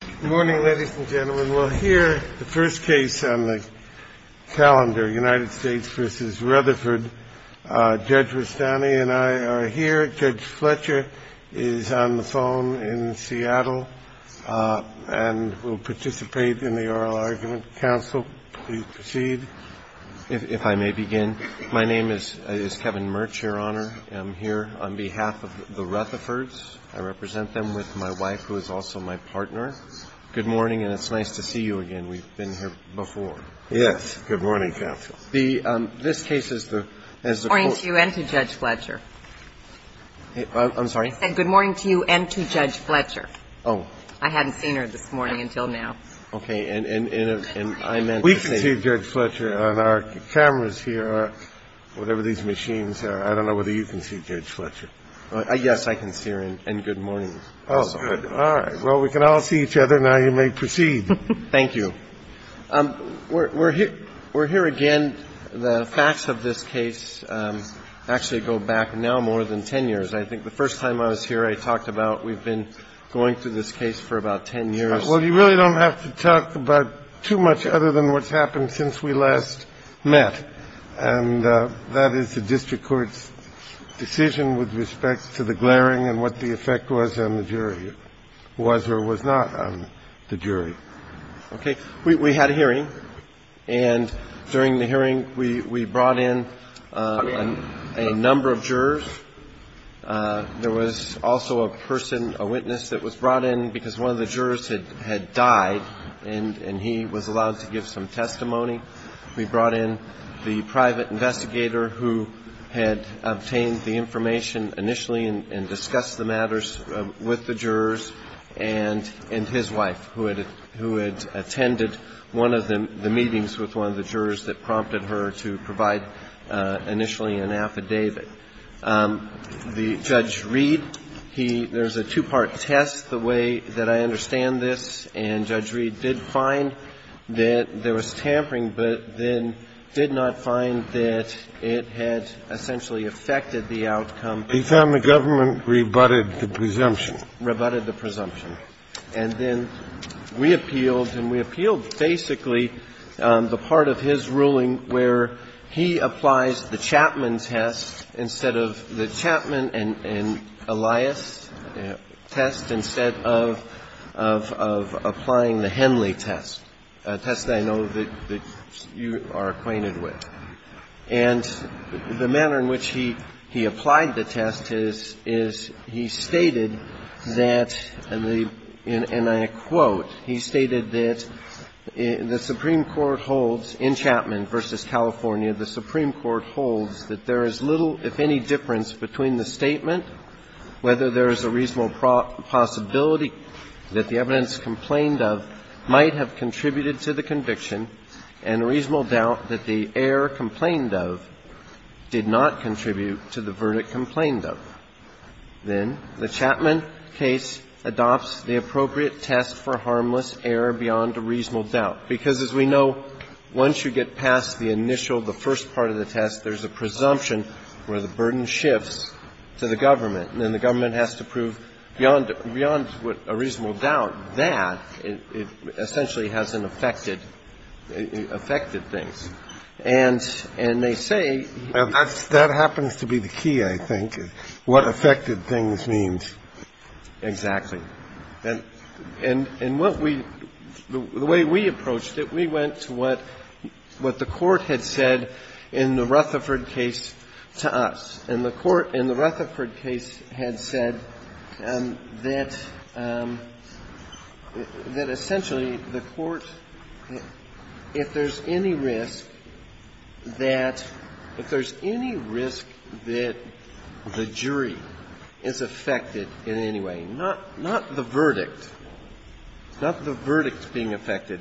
Good morning, ladies and gentlemen. We'll hear the first case on the calendar, United States v. Rutherford. Judge Rustani and I are here. Judge Fletcher is on the phone in Seattle and will participate in the oral argument. Counsel, please proceed. If I may begin, my name is Kevin Murch, Your Honor. I'm here on behalf of the Rutherfords. I represent them with my wife, who is also my partner. Good morning, and it's nice to see you again. We've been here before. Yes. Good morning, counsel. This case is the – Good morning to you and to Judge Fletcher. I'm sorry? I said good morning to you and to Judge Fletcher. Oh. I hadn't seen her this morning until now. Okay. And I meant to say – We can see Judge Fletcher on our cameras here, whatever these machines are. I don't know whether you can see Judge Fletcher. Yes, I can see her. And good morning. Oh, good. All right. Well, we can all see each other. Now you may proceed. Thank you. We're here again. The facts of this case actually go back now more than 10 years. I think the first time I was here, I talked about we've been going through this case for about 10 years. Well, you really don't have to talk about too much other than what's happened since we last met. And that is the district court's decision with respect to the glaring and what the effect was on the jury, was or was not on the jury. Okay. We had a hearing. And during the hearing, we brought in a number of jurors. There was also a person, a witness that was brought in because one of the jurors had died and he was allowed to give some testimony. We brought in the private investigator who had obtained the information initially and discussed the matters with the jurors, and his wife, who had attended one of the meetings with one of the jurors that prompted her to provide initially an affidavit. The judge read. There's a two-part test, the way that I understand this. And Judge Reed did find that there was tampering, but then did not find that it had essentially affected the outcome. He found the government rebutted the presumption. Rebutted the presumption. And then we appealed, and we appealed basically the part of his ruling where he applies the Chapman test instead of the Chapman and Elias test, instead of applying the Henley test, a test that I know that you are acquainted with. And the manner in which he applied the test is he stated that, and I quote, he stated that the Supreme Court holds, in Chapman v. California, the Supreme Court holds that there is little, if any, difference between the statement, whether there is a reasonable possibility that the evidence complained of might have contributed to the conviction and a reasonable doubt that the error complained of did not contribute to the verdict complained of. Then the Chapman case adopts the appropriate test for harmless error beyond a reasonable doubt, because as we know, once you get past the initial, the first part of the test, there's a presumption where the burden shifts to the government, and then the government has to prove beyond a reasonable doubt that it essentially hasn't affected, affected things. And they say that's the key, I think, what affected things means. Exactly. And what we, the way we approached it, we went to what the Court had said in the Rutherford case to us, and the Court in the Rutherford case had said that essentially the Court, if there's any risk that, if there's any risk that the jury is affected in any way, not the verdict, not the verdict being affected,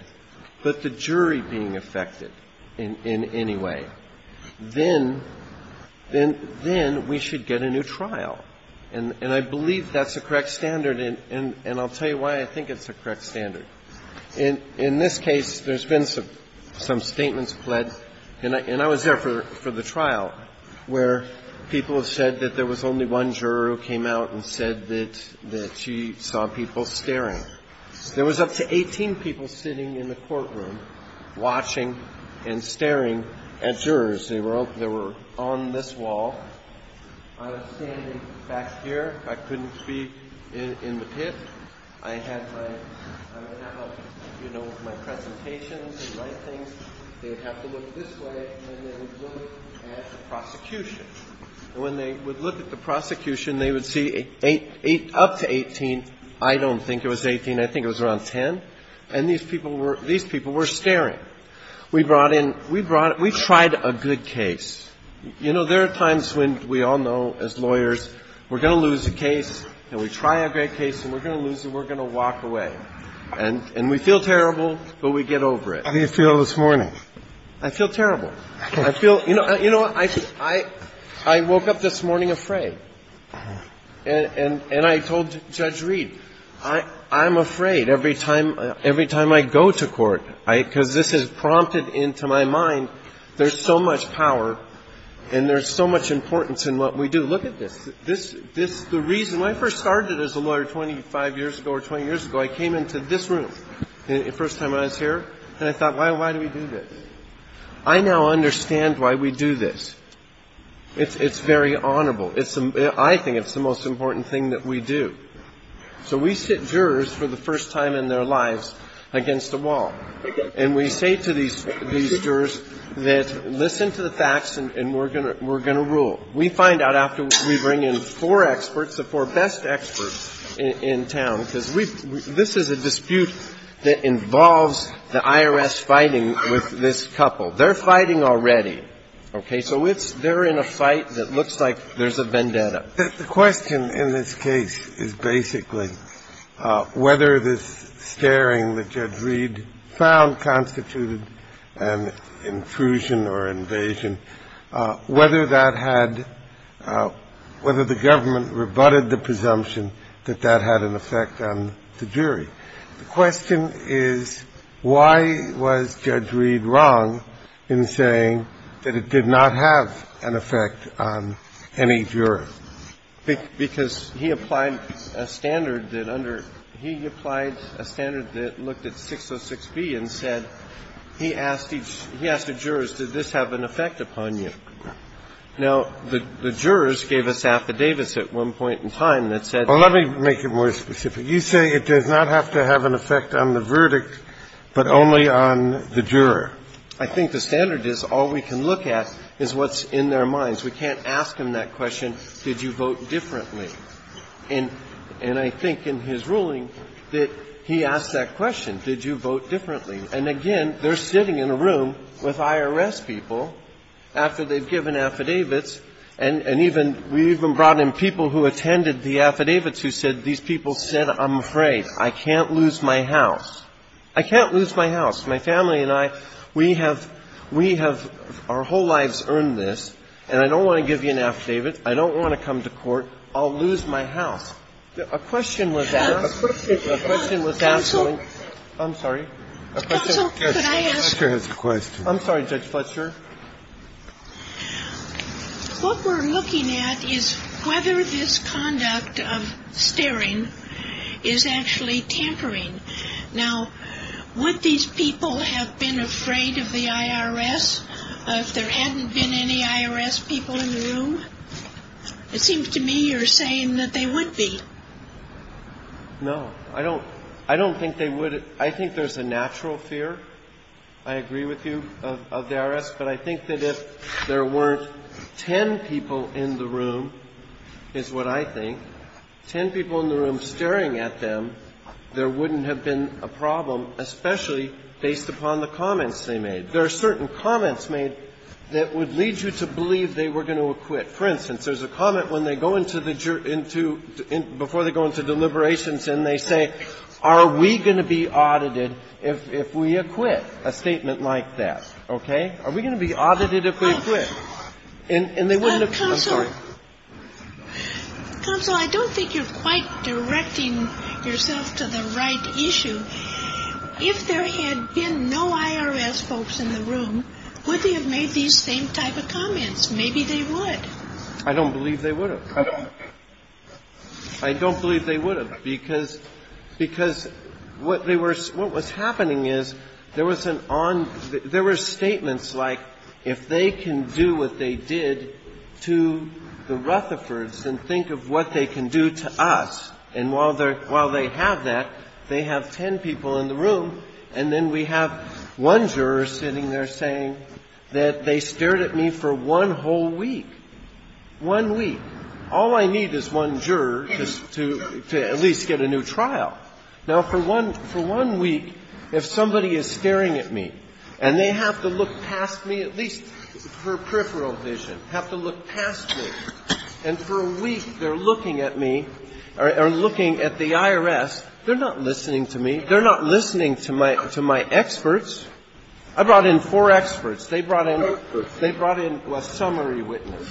but the jury being affected in any way, then, then we should get a new trial. And I believe that's a correct standard, and I'll tell you why I think it's a correct standard. In this case, there's been some statements pled, and I was there for the trial where people have said that there was only one juror who came out and said that she saw people staring. There was up to 18 people sitting in the courtroom watching and staring at jurors. They were on this wall. I was standing back here. I couldn't be in the pit. I had my, I would have, you know, my presentations and my things. They would have to look this way, and they would look at the prosecution. And when they would look at the prosecution, they would see eight, up to 18. I don't think it was 18. I think it was around 10. And these people were, these people were staring. We brought in, we brought, we tried a good case. You know, there are times when we all know, as lawyers, we're going to lose a case, and we try a great case, and we're going to lose it, and we're going to walk away. And we feel terrible, but we get over it. How do you feel this morning? I feel terrible. I feel, you know, I woke up this morning afraid. And I told Judge Reed, I'm afraid every time I go to court, because this has prompted into my mind, there's so much power, and there's so much importance in what we do. Look at this. This, the reason, when I first started as a lawyer 25 years ago or 20 years ago, I came into this room the first time I was here, and I thought, why do we do this? I now understand why we do this. It's very honorable. I think it's the most important thing that we do. So we sit jurors for the first time in their lives against a wall, and we say to these jurors that listen to the facts, and we're going to rule. We find out after we bring in four experts, the four best experts in town, because this is a dispute that involves the IRS fighting with this couple. They're fighting already. Okay? So it's they're in a fight that looks like there's a vendetta. The question in this case is basically whether this staring that Judge Reed found constituted an intrusion or invasion, whether that had ‑‑ whether the government rebutted the presumption that that had an effect on the jury. The question is, why was Judge Reed wrong in saying that it did not have an effect on any juror? Because he applied a standard that under ‑‑ he applied a standard that looked at 606B and said he asked each ‑‑ he asked the jurors, did this have an effect upon you? Now, the jurors gave us affidavits at one point in time that said ‑‑ Well, let me make it more specific. You say it does not have to have an effect on the verdict, but only on the juror. I think the standard is all we can look at is what's in their minds. We can't ask them that question, did you vote differently? And I think in his ruling that he asked that question, did you vote differently? And again, they're sitting in a room with IRS people after they've given affidavits and even ‑‑ we even brought in people who attended the affidavits who said these people said, I'm afraid, I can't lose my house. I can't lose my house. My family and I, we have ‑‑ we have ‑‑ our whole lives earned this, and I don't want to give you an affidavit, I don't want to come to court, I'll lose my house. A question was asked. I'm sorry. Judge Fletcher has a question. I'm sorry, Judge Fletcher. What we're looking at is whether this conduct of staring is actually tampering. Now, would these people have been afraid of the IRS if there hadn't been any IRS people in the room? It seems to me you're saying that they would be. No. I don't ‑‑ I don't think they would ‑‑ I think there's a natural fear, I agree with you, of the IRS, but I think that if there weren't ten people in the room, is what I think, ten people in the room staring at them, there wouldn't have been a problem, especially based upon the comments they made. There are certain comments made that would lead you to believe they were going to acquit. For instance, there's a comment when they go into ‑‑ before they go into deliberations and they say, are we going to be audited if we acquit, a statement like that, okay? Are we going to be audited if we acquit? And they wouldn't have ‑‑ I'm sorry. Counsel, I don't think you're quite directing yourself to the right issue. If there had been no IRS folks in the room, would they have made these same type of comments? Because maybe they would. I don't believe they would have. I don't. I don't believe they would have. Because ‑‑ because what they were ‑‑ what was happening is there was an on ‑‑ there were statements like, if they can do what they did to the Rutherfords, then think of what they can do to us. And while they have that, they have ten people in the room, and then we have one juror sitting there saying that they stared at me for one whole week. One week. All I need is one juror to at least get a new trial. Now, for one ‑‑ for one week, if somebody is staring at me and they have to look past me, at least for peripheral vision, have to look past me, and for a week they're looking at me or looking at the IRS, they're not listening to me. They're not listening to my experts. I brought in four experts. They brought in ‑‑ they brought in a summary witness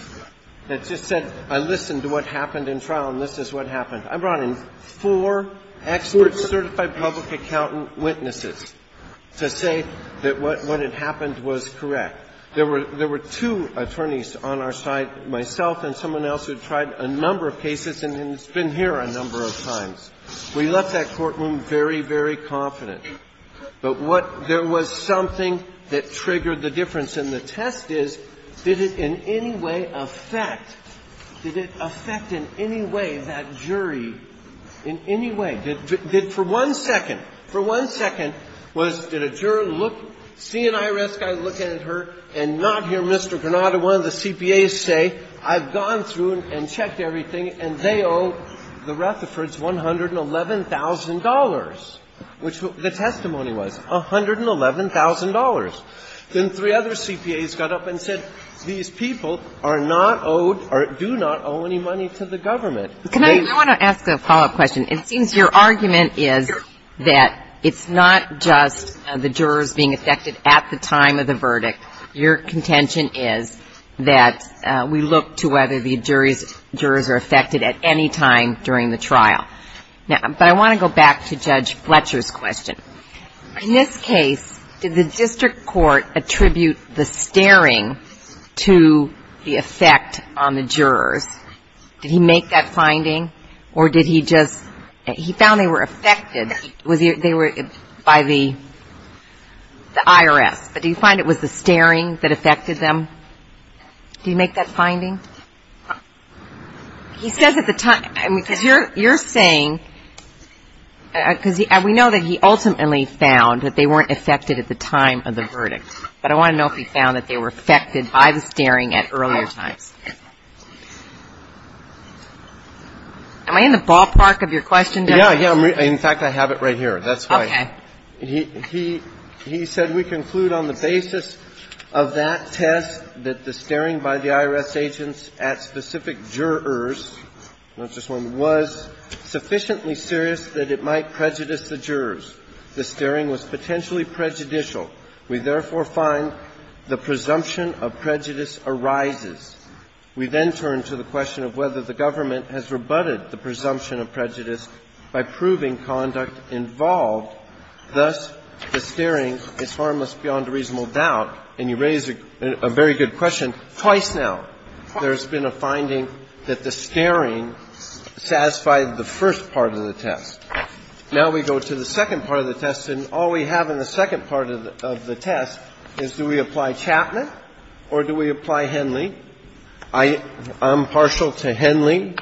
that just said, I listened to what happened in trial and this is what happened. I brought in four experts, certified public accountant witnesses, to say that what had happened was correct. There were two attorneys on our side, myself and someone else, who tried a number of cases and has been here a number of times. We left that courtroom very, very confident. But what ‑‑ there was something that triggered the difference. And the test is, did it in any way affect ‑‑ did it affect in any way that jury, in any way? Did for one second, for one second, was did a juror look, see an IRS guy looking at her and not hear Mr. Granada, one of the CPAs, say, I've gone through and checked everything and they owe the Rutherfords $111,000? Which the testimony was, $111,000. Then three other CPAs got up and said, these people are not owed or do not owe any money to the government. Can I ‑‑ I want to ask a follow‑up question. It seems your argument is that it's not just the jurors being affected at the time of the verdict. Your contention is that we look to whether the jurors are affected at any time during the trial. But I want to go back to Judge Fletcher's question. In this case, did the district court attribute the staring to the effect on the jurors? Did he make that finding? Or did he just ‑‑ he found they were affected. They were by the IRS. But do you find it was the staring that affected them? Did he make that finding? He says at the time. Because you're saying ‑‑ because we know that he ultimately found that they weren't affected at the time of the verdict. But I want to know if he found that they were affected by the staring at earlier times. Am I in the ballpark of your question, Judge? Yeah, yeah. In fact, I have it right here. That's why. Okay. He said we conclude on the basis of that test that the staring by the IRS agent at specific jurors, not just one, was sufficiently serious that it might prejudice the jurors. The staring was potentially prejudicial. We therefore find the presumption of prejudice arises. We then turn to the question of whether the government has rebutted the presumption of prejudice by proving conduct involved. Thus, the staring is harmless beyond a reasonable doubt. And you raise a very good question twice now. There's been a finding that the staring satisfied the first part of the test. Now we go to the second part of the test, and all we have in the second part of the test is do we apply Chapman or do we apply Henley? I'm partial to Henley.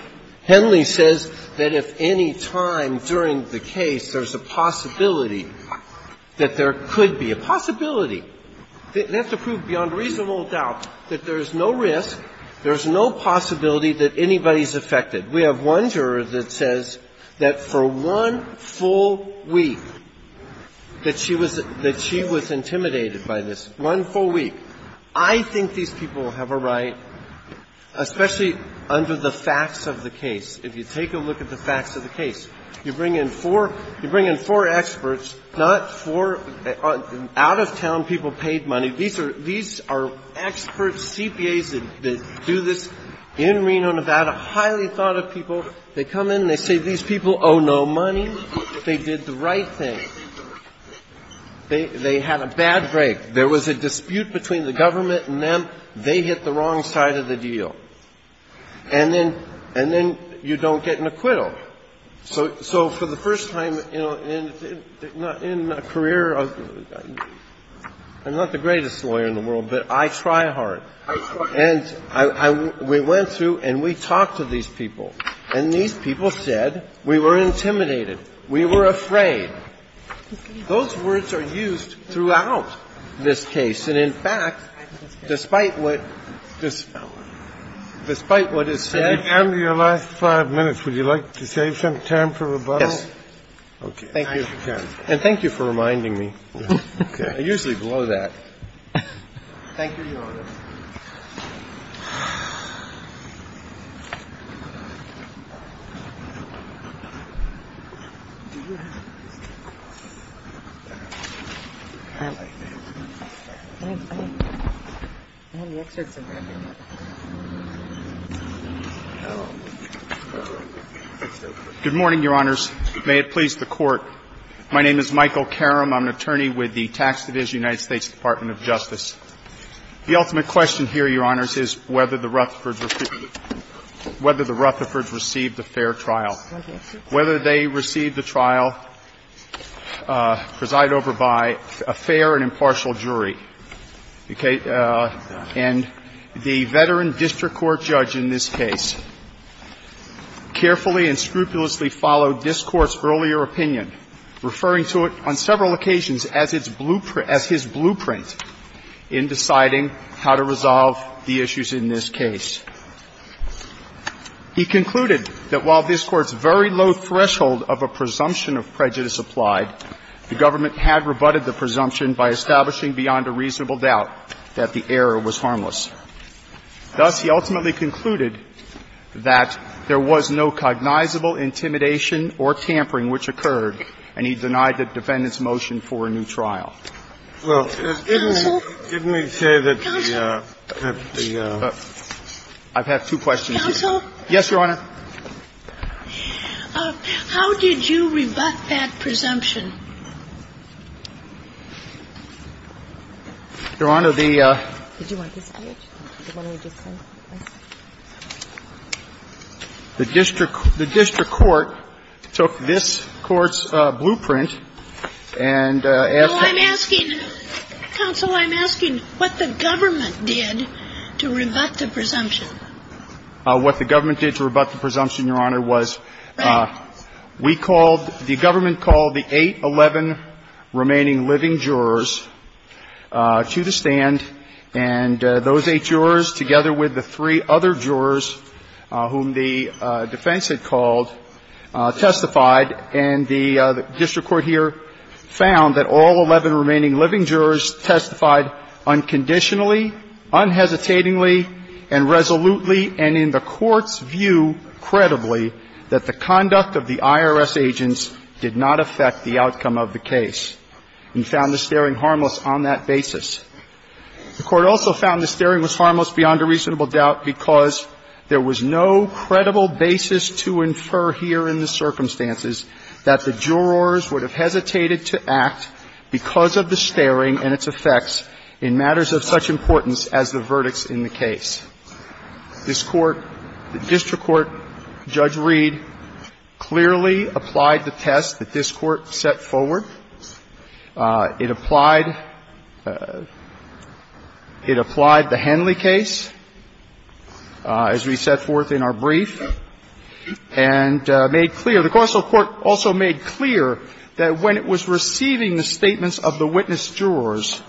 Henley says that if any time during the case there's a possibility that there could be a possibility, we have to prove beyond reasonable doubt that there's no risk, there's no possibility that anybody's affected. We have one juror that says that for one full week that she was intimidated by this, one full week. I think these people have a right, especially under the facts of the case. If you take a look at the facts of the case, you bring in four experts, not four out-of-town people paid money. These are expert CPAs that do this in Reno, Nevada, highly thought of people. They come in and they say these people owe no money. They did the right thing. They had a bad break. There was a dispute between the government and them. They hit the wrong side of the deal. And then you don't get an acquittal. So for the first time in a career, I'm not the greatest lawyer in the world, but I try hard. And we went through and we talked to these people. And these people said we were intimidated. We were afraid. Those words are used throughout this case. And, in fact, despite what is said ---- Thank you for reminding me. I usually blow that. Good morning, Your Honors. May it please the Court. My name is Michael Karam. I'm an attorney with the Tax Division, United States Department of Justice. The ultimate question here, Your Honors, is whether the Rutherfords received a fair trial. Whether they received a trial presided over by a fair and impartial jury. And the veteran district court judge in this case carefully and scrupulously followed this Court's earlier opinion, referring to it on several occasions as its blueprint in deciding how to resolve the issues in this case. He concluded that while this Court's very low threshold of a presumption of prejudice applied, the government had rebutted the presumption by establishing beyond a reasonable doubt that the error was harmless. Thus, he ultimately concluded that there was no cognizable intimidation or tampering which occurred, and he denied the defendant's motion for a new trial. Counsel? Counsel? I've had two questions. Counsel? Yes, Your Honor. How did you rebut that presumption? Your Honor, the ---- Did you want this page? The one we just sent? The district court took this Court's blueprint and asked that ---- Counsel, I'm asking what the government did to rebut the presumption. What the government did to rebut the presumption, Your Honor, was we called the government called the eight, 11 remaining living jurors to the stand. And those eight jurors, together with the three other jurors whom the defense had called, testified. And the district court here found that all 11 remaining living jurors testified unconditionally, unhesitatingly, and resolutely, and in the Court's view, credibly, that the conduct of the IRS agents did not affect the outcome of the case. And found the staring harmless on that basis. The Court also found the staring was harmless beyond a reasonable doubt because there was no credible basis to infer here in the circumstances that the jurors would have hesitated to act because of the staring and its effects in matters of such importance as the verdicts in the case. This Court, the district court, Judge Reed, clearly applied the test that this Court set forward. It applied the Henley case, as we set forth in our brief, and made clear. The Corso court also made clear that when it was receiving the statements of the witness jurors,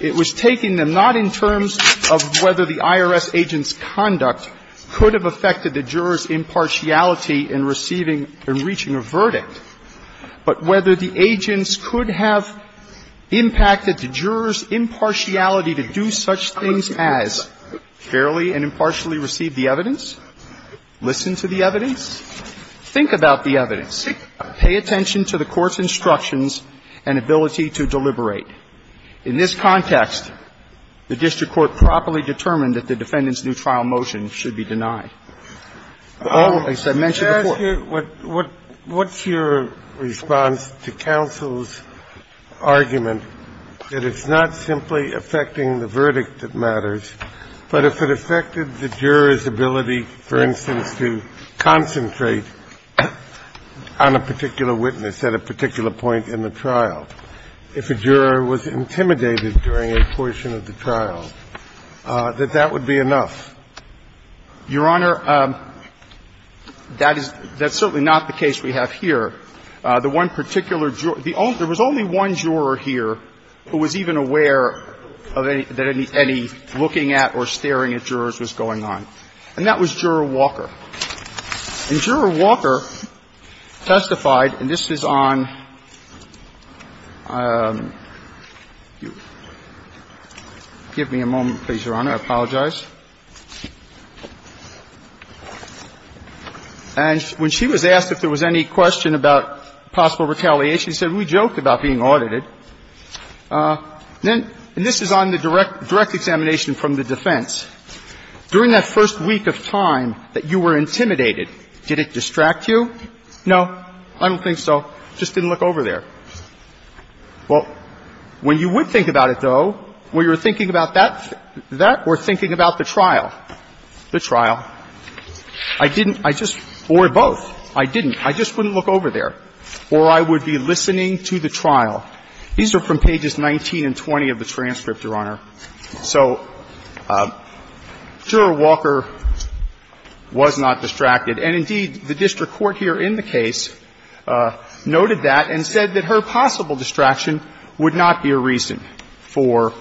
it was taking them not in terms of whether the IRS agent's conduct could have affected the jurors' impartiality in receiving and reaching a verdict, but whether the agents could have impacted the jurors' impartiality to do such things as fairly and impartially receive the evidence, listen to the evidence, think about the evidence, pay attention to the Court's instructions and ability to deliberate. In this context, the district court properly determined that the defendant's new trial motion should be denied. The raise that I mentioned before The question I'd like to ask you, what's your response to counsel's argument that it's not simply affecting the verdict that matters, but if it affected the jurors' ability, for instance, to concentrate on a particular witness at a particular point in the trial, if a juror was intimidated during a portion of the trial, that that would be enough? Your Honor, that's certainly not the case we have here. The one particular juror, there was only one juror here who was even aware that any looking at or staring at jurors was going on, and that was Juror Walker. And Juror Walker testified, and this is on – give me a moment, please, Your Honor. I apologize. And when she was asked if there was any question about possible retaliation, she said, we joked about being audited. And this is on the direct examination from the defense. During that first week of time that you were intimidated, did it distract you? No, I don't think so. Just didn't look over there. Well, when you would think about it, though, when you're thinking about that, that or thinking about the trial, the trial, I didn't – I just – or both. I didn't. I just wouldn't look over there. Or I would be listening to the trial. These are from pages 19 and 20 of the transcript, Your Honor. So Juror Walker was not distracted. And indeed, the district court here in the case noted that and said that her possible distraction would not be a reason for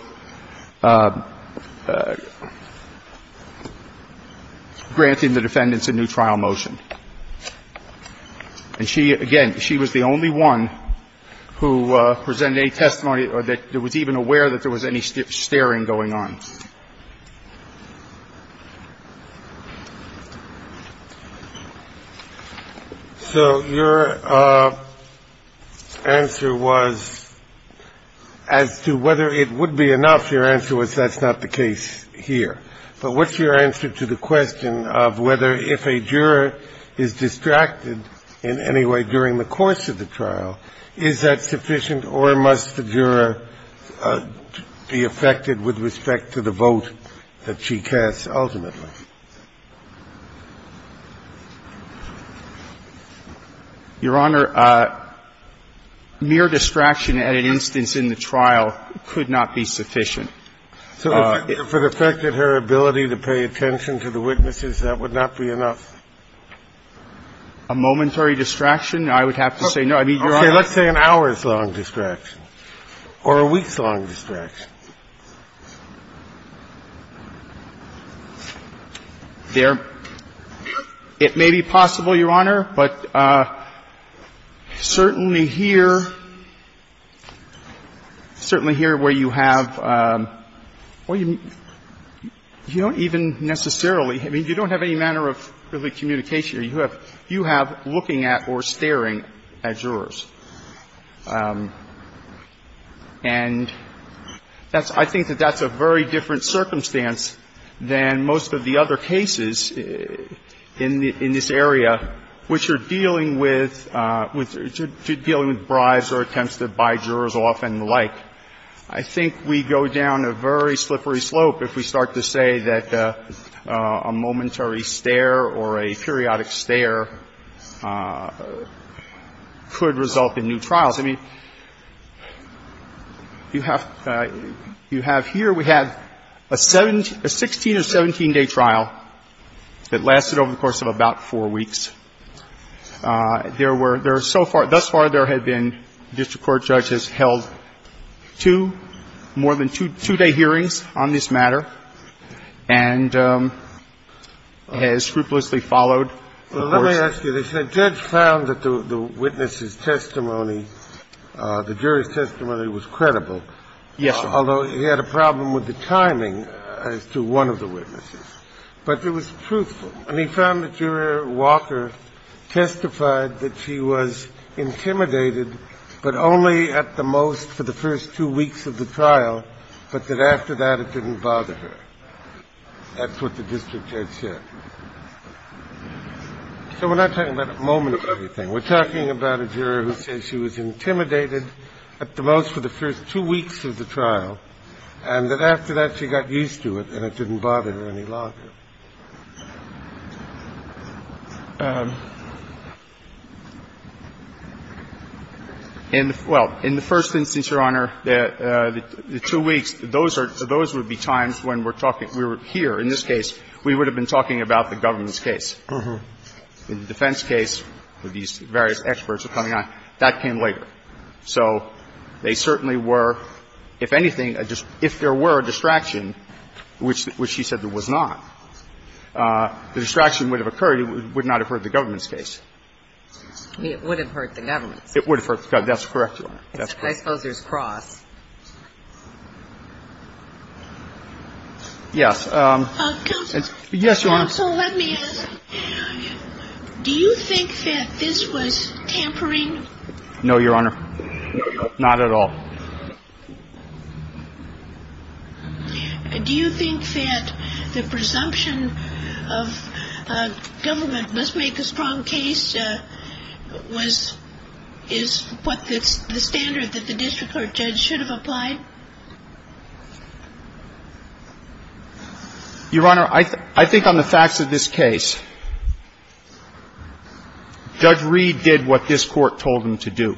granting the defendants a new trial motion. And she – again, she was the only one who presented any testimony that was even aware that there was any staring going on. So your answer was, as to whether it would be enough, your answer was that's not the case here. But what's your answer to the question of whether if a juror is distracted in any way during the course of the trial, is that sufficient or must the juror be affected with respect to the vote that she casts ultimately? Your Honor, mere distraction at an instance in the trial could not be sufficient. So if it affected her ability to pay attention to the witnesses, that would not be enough? A momentary distraction? I would have to say no. I mean, Your Honor – Okay. Let's say an hour's long distraction or a week's long distraction. There – it may be possible, Your Honor, but certainly here, certainly here where you have – you don't even necessarily – I mean, you don't have any manner of really distraction. And that's – I think that that's a very different circumstance than most of the other cases in this area, which are dealing with – dealing with bribes or attempts to buy jurors off and the like. I think we go down a very slippery slope if we start to say that a momentary stare or a periodic stare could result in new trials. I mean, you have – you have – here we have a 17 – a 16- or 17-day trial that lasted over the course of about four weeks. There were – there are so far – thus far, there have been district court judges who have held two, more than two, two-day hearings on this matter and has scrupulously followed the course. Well, let me ask you this. The judge found that the witness's testimony, the jury's testimony was credible. Yes, Your Honor. Although he had a problem with the timing as to one of the witnesses. But it was truthful. And he found that Jury Walker testified that she was intimidated, but only at the most, for the first two weeks of the trial, but that after that it didn't bother her. That's what the district judge said. So we're not talking about a moment of everything. We're talking about a juror who says she was intimidated at the most for the first two weeks of the trial and that after that she got used to it and it didn't bother her any longer. Well, in the first instance, Your Honor, the two weeks, those are – those would be times when we're talking – we're here in this case, we would have been talking about the government's case. In the defense case, these various experts are coming on, that came later. So they certainly were, if anything, if there were a distraction, which she said was not. The distraction would have occurred. It would not have hurt the government's case. It would have hurt the government's case. It would have hurt the government's case. That's correct, Your Honor. That's correct. I suppose there's cross. Yes. Counsel. Yes, Your Honor. Counsel, let me ask, do you think that this was tampering? No, Your Honor. Not at all. Do you think that the presumption of government must make a strong case was – is what the standard that the district court judge should have applied? Your Honor, I think on the facts of this case, Judge Reed did what this Court told him to do.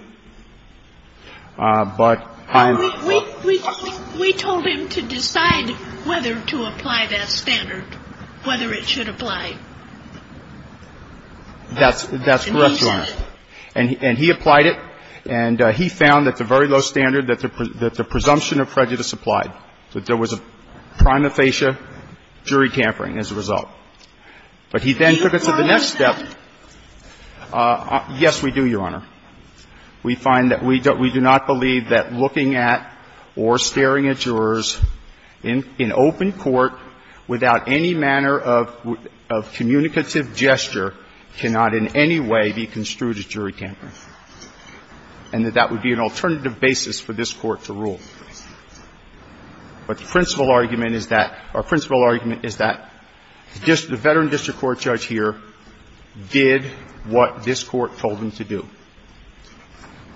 We told him to decide whether to apply that standard, whether it should apply. That's correct, Your Honor. And he applied it, and he found that the very low standard that the presumption of prejudice applied, that there was a prima facie jury tampering as a result. But he then took it to the next step. Yes, we do, Your Honor. We find that we do not believe that looking at or staring at jurors in open court without any manner of communicative gesture cannot in any way be construed as jury tampering, and that that would be an alternative basis for this Court to rule. But the principal argument is that – our principal argument is that the veteran district court judge here did what this Court told him to do,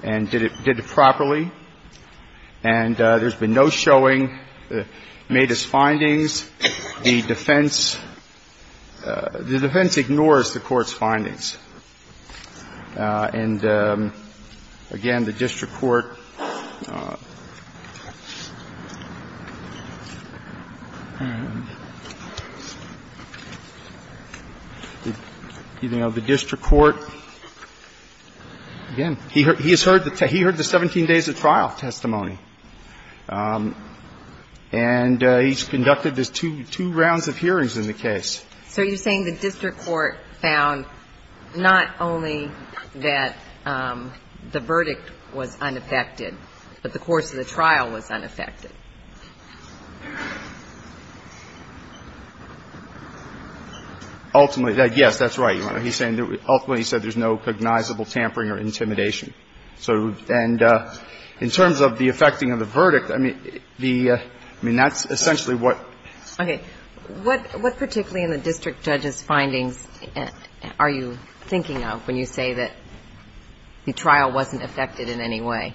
and did it – did it properly, and there's been no showing, made his findings. The defense – the defense ignores the Court's findings. And, again, the district court – again, he has heard the – he heard the 17 days of trial testimony, and he's conducted this two – two rounds of hearings in the case. So you're saying the district court found not only that the verdict was unaffected, but the course of the trial was unaffected? Ultimately, yes, that's right, Your Honor. He's saying – ultimately, he said there's no cognizable tampering or intimidation. So – and in terms of the affecting of the verdict, I mean, the – I mean, that's essentially what – Okay. What – what particularly in the district judge's findings are you thinking of when you say that the trial wasn't affected in any way?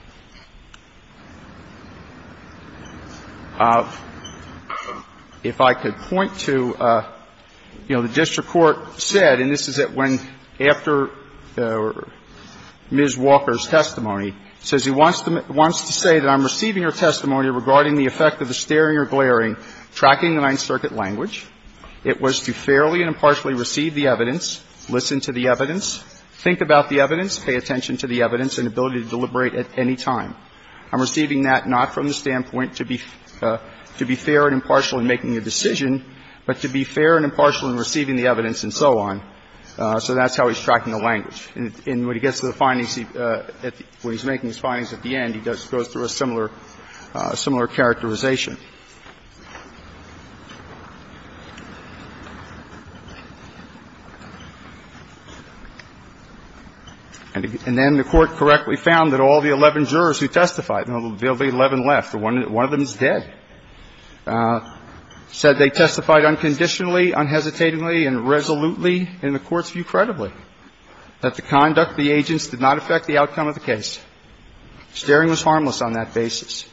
If I could point to, you know, the district court said, and this is at when after Ms. Walker's testimony, it says he wants to say that I'm receiving her testimony regarding the effect of the staring or glaring, tracking the Ninth Circuit language. It was to fairly and impartially receive the evidence, listen to the evidence, think about the evidence, pay attention to the evidence, and ability to deliberate at any time. I'm receiving that not from the standpoint to be – to be fair and impartial in making a decision, but to be fair and impartial in receiving the evidence and so on. So that's how he's tracking the language. And when he gets to the findings – when he's making his findings at the end, he goes through a similar – similar characterization. And then the Court correctly found that all the 11 jurors who testified – there will be 11 left, but one of them is dead – said they testified unconditionally, unhesitatingly, and resolutely in the Court's view, credibly, that the conduct of the agents did not affect the outcome of the case. Staring was harmless on that basis.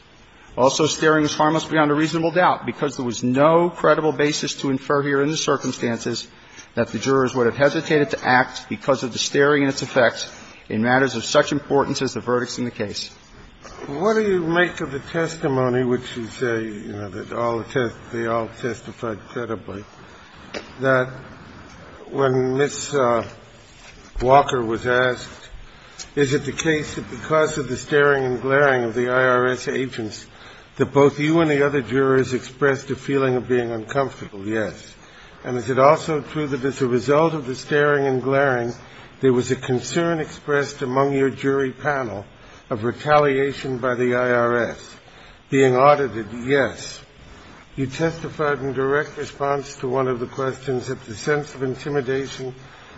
Also, staring was harmless beyond a reasonable doubt, because there was no credible basis to infer here in the circumstances that the jurors would have hesitated to act because of the staring and its effects in matters of such importance as the verdicts in the case. What do you make of the testimony, which is a – you know, that all the test – they all testified credibly, that when Ms. Walker was asked, is it the case that because of the staring and glaring of the IRS agents that both you and the other jurors expressed a feeling of being uncomfortable? Yes. And is it also true that as a result of the staring and glaring, there was a concern expressed among your jury panel of retaliation by the IRS being audited? Yes. You testified in direct response to one of the questions that the sense of intimidation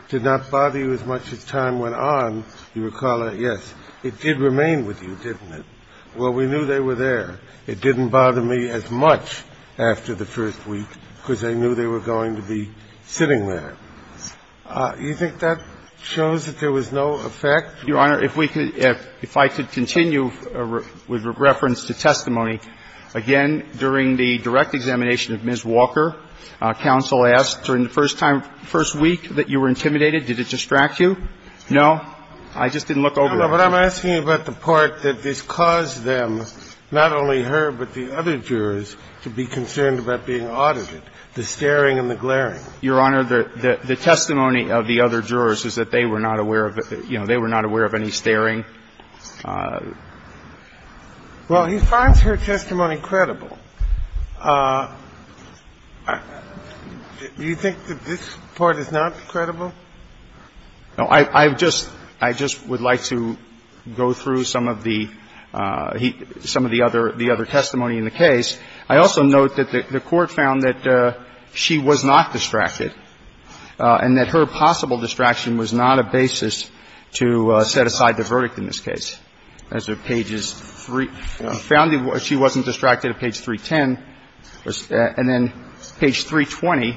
did not bother you as much as time went on. Do you recall that? Yes. It did remain with you, didn't it? Well, we knew they were there. It didn't bother me as much after the first week because I knew they were going to be sitting there. You think that shows that there was no effect? Your Honor, if we could – if I could continue with reference to testimony. Again, during the direct examination of Ms. Walker, counsel asked during the first time – first week that you were intimidated, did it distract you? No? I just didn't look over it. No, but I'm asking about the part that this caused them, not only her but the other jurors, to be concerned about being audited, the staring and the glaring. Your Honor, the testimony of the other jurors is that they were not aware of – you know, they were not aware of any staring. Well, he finds her testimony credible. Do you think that this part is not credible? No. I've just – I just would like to go through some of the – some of the other testimony in the case. I also note that the Court found that she was not distracted and that her possible distraction was not a basis to set aside the verdict in this case. As of pages 3 – she wasn't distracted at page 310. And then page 320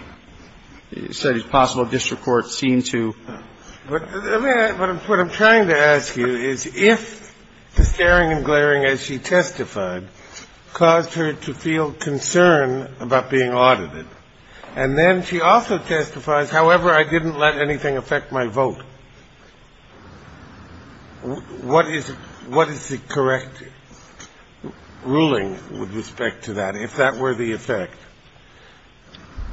said it's possible district court seemed to – But what I'm trying to ask you is if the staring and glaring as she testified caused her to feel concern about being audited, and then she also testifies, however, I didn't let anything affect my vote, what is – what is the correct ruling with respect to that, if that were the effect?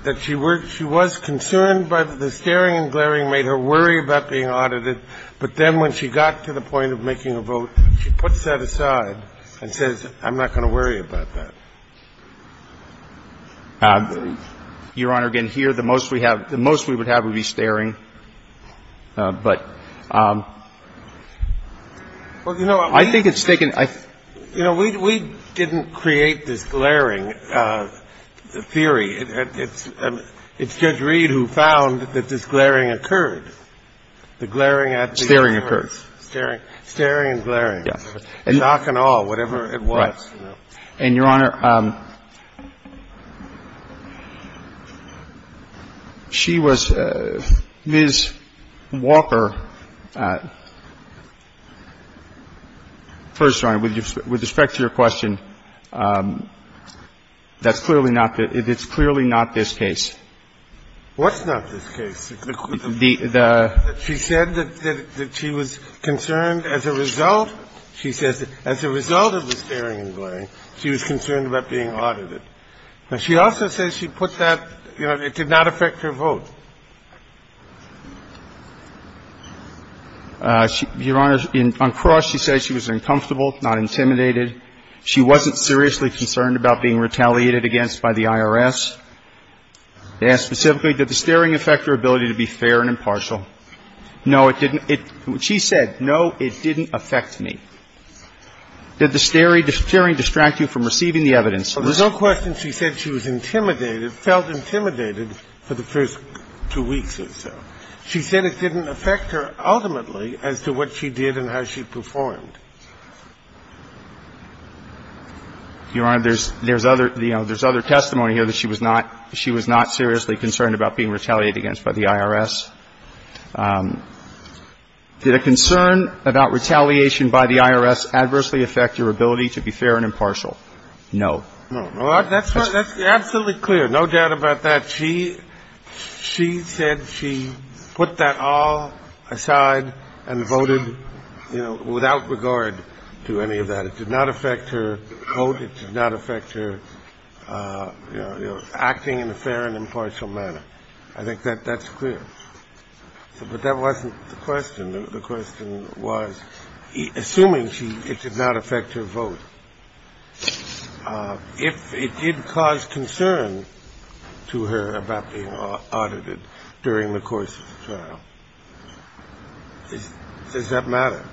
That she were – she was concerned by the staring and glaring made her worry about being audited, but then when she got to the point of making a vote, she puts that aside and says, I'm not going to worry about that. Your Honor, again, here, the most we have – the most we would have would be staring. But I think it's taken – You know, we didn't create this glaring theory. It's Judge Reed who found that this glaring occurred. The glaring at the court. Staring occurred. Staring. Staring and glaring. Stock and all, whatever it was. And, Your Honor, she was – Ms. Walker – first, Your Honor, with respect to your question, that's clearly not the – it's clearly not this case. What's not this case? The – Your Honor, Ms. Walker said that she was concerned about being audited. She said that as a result of the staring and glaring, she was concerned about being audited. Now, she also says she put that – you know, it did not affect her vote. Your Honor, on cross, she said she was uncomfortable, not intimidated. She wasn't seriously concerned about being retaliated against by the IRS. They asked specifically, did the staring affect her ability to be fair and impartial? No, it didn't. She said, no, it didn't affect me. Did the staring distract you from receiving the evidence? There's no question she said she was intimidated, felt intimidated for the first two weeks or so. She said it didn't affect her ultimately as to what she did and how she performed. Your Honor, there's – there's other – you know, there's other testimony here that she was not – she was not seriously concerned about being retaliated against by the IRS. Did a concern about retaliation by the IRS adversely affect your ability to be fair and impartial? No. No. That's absolutely clear. No doubt about that. But she – she said she put that all aside and voted, you know, without regard to any of that. It did not affect her vote. It did not affect her, you know, acting in a fair and impartial manner. I think that's clear. But that wasn't the question. The question was, assuming she – it did not affect her vote, if it did cause concern to her, did it cause concern to her about being audited during the course of the trial? Does that matter?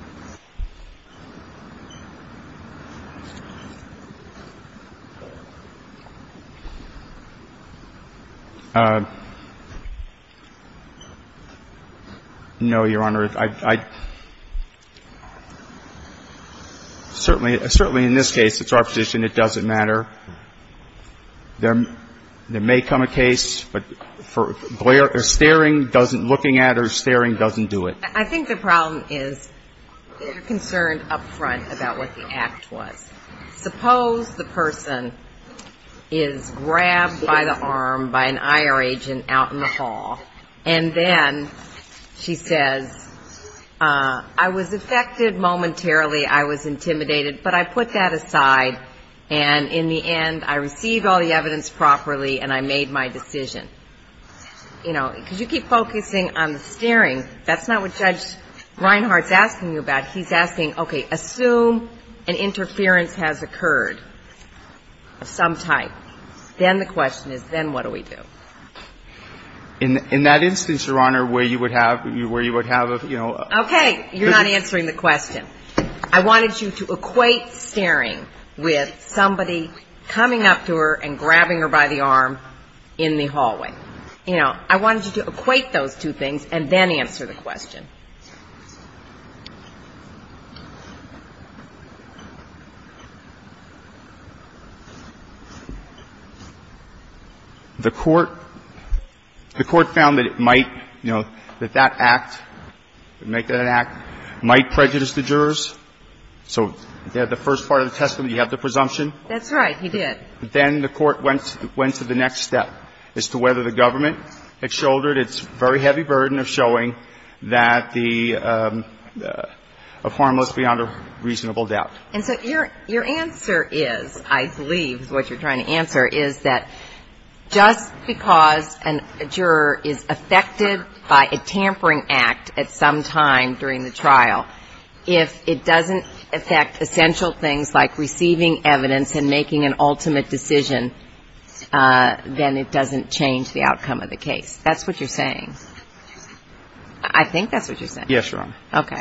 No, Your Honor. I – certainly – certainly in this case, it's our position it doesn't matter. There – there may come a case, but for Blair, staring doesn't – looking at her, staring doesn't do it. I think the problem is they're concerned up front about what the act was. Suppose the person is grabbed by the arm by an IR agent out in the hall, and then she says, I was affected momentarily. I was intimidated. But I put that aside, and in the end, I received all the evidence properly, and I made my decision. You know, because you keep focusing on the staring. That's not what Judge Reinhart's asking you about. He's asking, okay, assume an interference has occurred of some type. Then the question is, then what do we do? In that instance, Your Honor, where you would have – where you would have, you know – Okay. You're not answering the question. I wanted you to equate staring with somebody coming up to her and grabbing her by the arm in the hallway. You know, I wanted you to equate those two things and then answer the question. The Court found that it might, you know, that that act, make that an act, might prejudice the jurors. So at the first part of the testament, you have the presumption. That's right. He did. Then the Court went to the next step as to whether the government had shouldered And so your answer is, I believe, is what you're trying to answer, is that just because a juror is affected by a tampering act at some time during the trial, if it doesn't affect essential things like receiving evidence and making an ultimate decision, then it doesn't change the outcome of the case. That's what you're saying. I think that's what you're saying. Yes, Your Honor. Okay.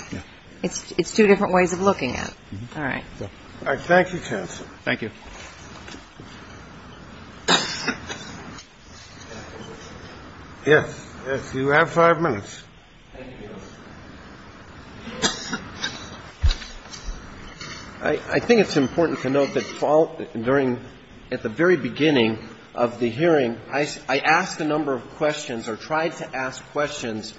It's two different ways of looking at it. All right. All right. Thank you, counsel. Thank you. Yes. You have five minutes. I think it's important to note that during – at the very beginning of the hearing, I asked a number of questions or tried to ask questions,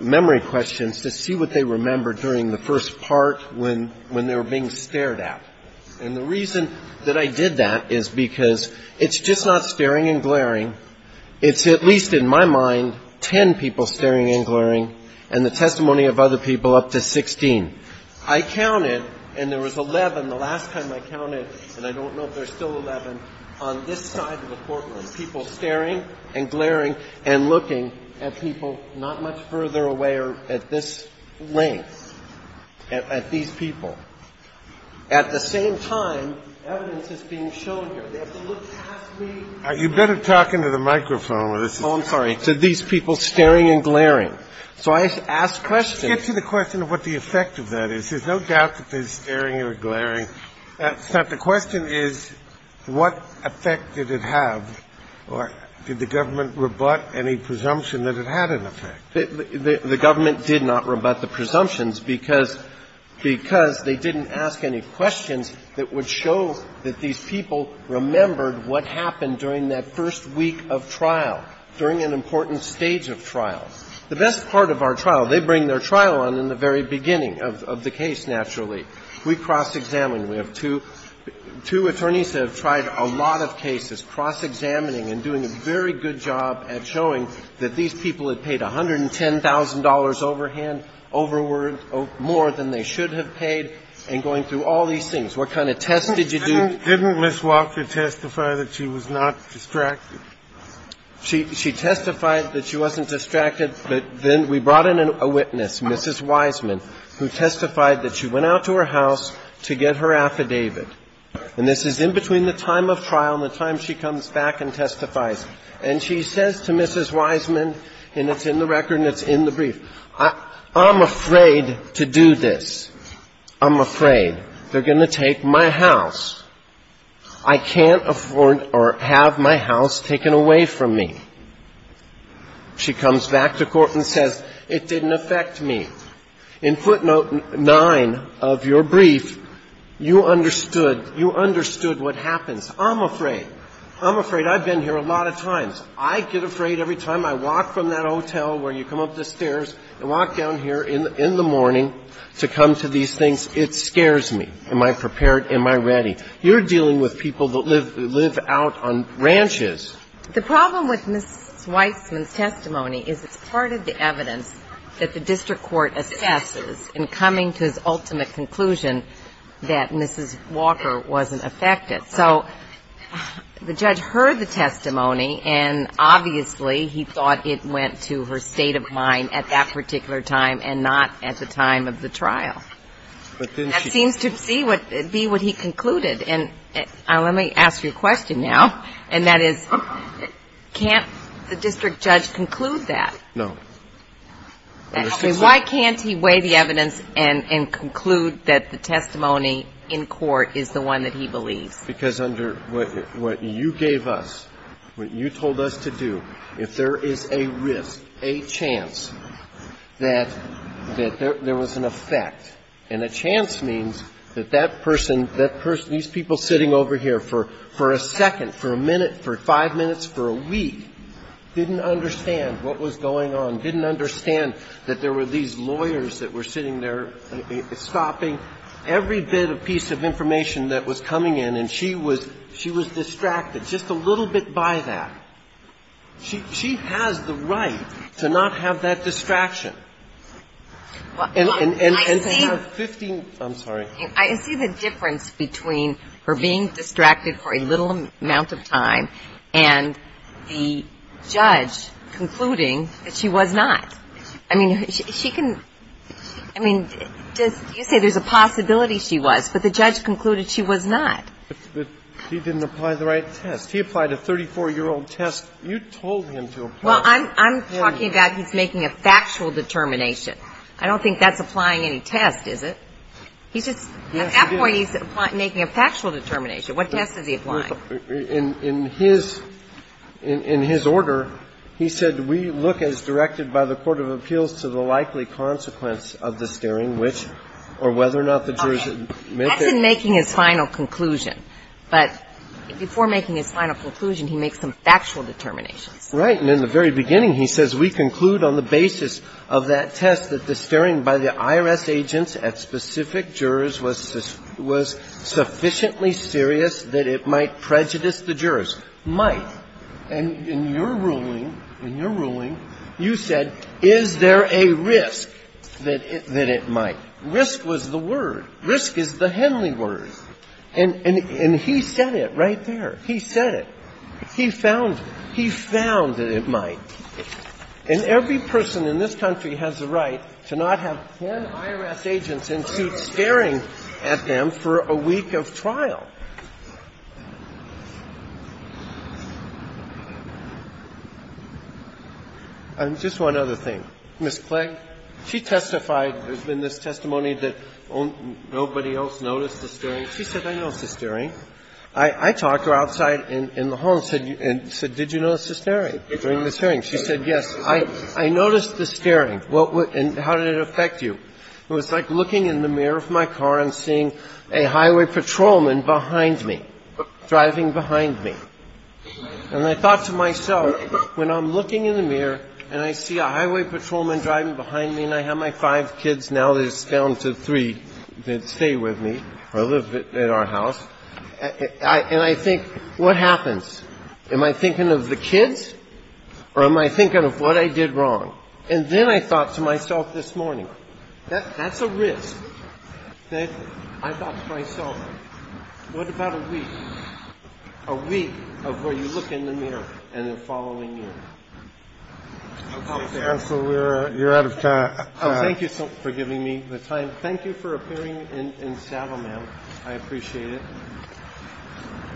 memory questions, to see what they remembered during the first part when they were being stared at. And the reason that I did that is because it's just not staring and glaring. It's at least, in my mind, 10 people staring and glaring and the testimony of other people up to 16. I counted, and there was 11 the last time I counted, and I don't know if there's still 11, on this side of the courtroom. I counted 11 people staring and glaring and looking at people not much further away or at this length, at these people. At the same time, evidence is being shown here. They have to look past me. You'd better talk into the microphone. Oh, I'm sorry. To these people staring and glaring. So I asked questions. To get to the question of what the effect of that is, there's no doubt that they're staring or glaring. The question is what effect did it have or did the government rebut any presumption that it had an effect? The government did not rebut the presumptions because they didn't ask any questions that would show that these people remembered what happened during that first week of trial, during an important stage of trial. The best part of our trial, they bring their trial on in the very beginning of the case, naturally. We cross-examined. We have two attorneys that have tried a lot of cases, cross-examining and doing a very good job at showing that these people had paid $110,000 overhand, overword, more than they should have paid, and going through all these things. What kind of tests did you do? Didn't Ms. Walker testify that she was not distracted? She testified that she wasn't distracted, but then we brought in a witness, Mrs. Wiseman, who testified that she went out to her house to get her affidavit. And this is in between the time of trial and the time she comes back and testifies. And she says to Mrs. Wiseman, and it's in the record and it's in the brief, I'm afraid to do this. I'm afraid they're going to take my house. I can't afford or have my house taken away from me. She comes back to court and says, it didn't affect me. In footnote 9 of your brief, you understood, you understood what happens. I'm afraid. I'm afraid. I've been here a lot of times. I get afraid every time I walk from that hotel where you come up the stairs and walk down here in the morning to come to these things. It scares me. Am I prepared? Am I ready? You're dealing with people that live out on ranches. The problem with Mrs. Wiseman's testimony is it's part of the evidence that the district court assesses in coming to his ultimate conclusion that Mrs. Walker wasn't affected. So the judge heard the testimony and obviously he thought it went to her state of mind at that particular time and not at the time of the trial. That seems to be what he concluded. And let me ask you a question now. And that is, can't the district judge conclude that? No. Why can't he weigh the evidence and conclude that the testimony in court is the one that he believes? Because under what you gave us, what you told us to do, if there is a risk, a chance that there was an effect and a chance means that that person, these people sitting over here for a second, for a minute, for five minutes, for a week, didn't understand what was going on, didn't understand that there were these lawyers that were sitting there stopping every bit of piece of information that was coming in. And she was distracted just a little bit by that. She has the right to not have that distraction. And to have 15 ñ I'm sorry. I see the difference between her being distracted for a little amount of time and the judge concluding that she was not. I mean, she can ñ I mean, you say there's a possibility she was, but the judge concluded she was not. But he didn't apply the right test. He applied a 34-year-old test. You told him to apply it. Well, I'm talking about he's making a factual determination. I don't think that's applying any test, is it? He's just ñ at that point, he's making a factual determination. What test is he applying? In his order, he said we look as directed by the court of appeals to the likely consequence of the steering, which ñ or whether or not the jurors admit that. That's in making his final conclusion. But before making his final conclusion, he makes some factual determinations. Right. And in the very beginning, he says we conclude on the basis of that test that the steering by the IRS agents at specific jurors was sufficiently serious that it might prejudice the jurors. Might. And in your ruling, in your ruling, you said is there a risk that it might. Risk was the word. Risk is the Henley word. And he said it right there. He said it. He found it. He found that it might. And every person in this country has a right to not have ten IRS agents in suits staring at them for a week of trial. And just one other thing. Ms. Clay, she testified in this testimony that nobody else noticed the steering. She said, I noticed the steering. I talked to her outside in the hall and said, did you notice the steering during this hearing? She said, yes. I noticed the steering. And how did it affect you? It was like looking in the mirror of my car and seeing a highway patrolman behind me, driving behind me. And I thought to myself, when I'm looking in the mirror and I see a highway patrolman driving behind me and I have my five kids, now there's down to three that stay with me or live at our house, and I think, what happens? Am I thinking of the kids or am I thinking of what I did wrong? And then I thought to myself this morning, that's a risk that I thought to myself, what about a week? A week of where you look in the mirror and they're following you. Thank you, counsel. You're out of time. Oh, thank you for giving me the time. Thank you for appearing in Savile Mail. I appreciate it.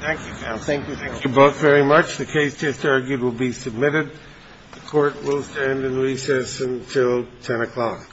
Thank you, counsel. Thank you. Thank you both very much. The case just argued will be submitted. The Court will stand in recess until 10 o'clock.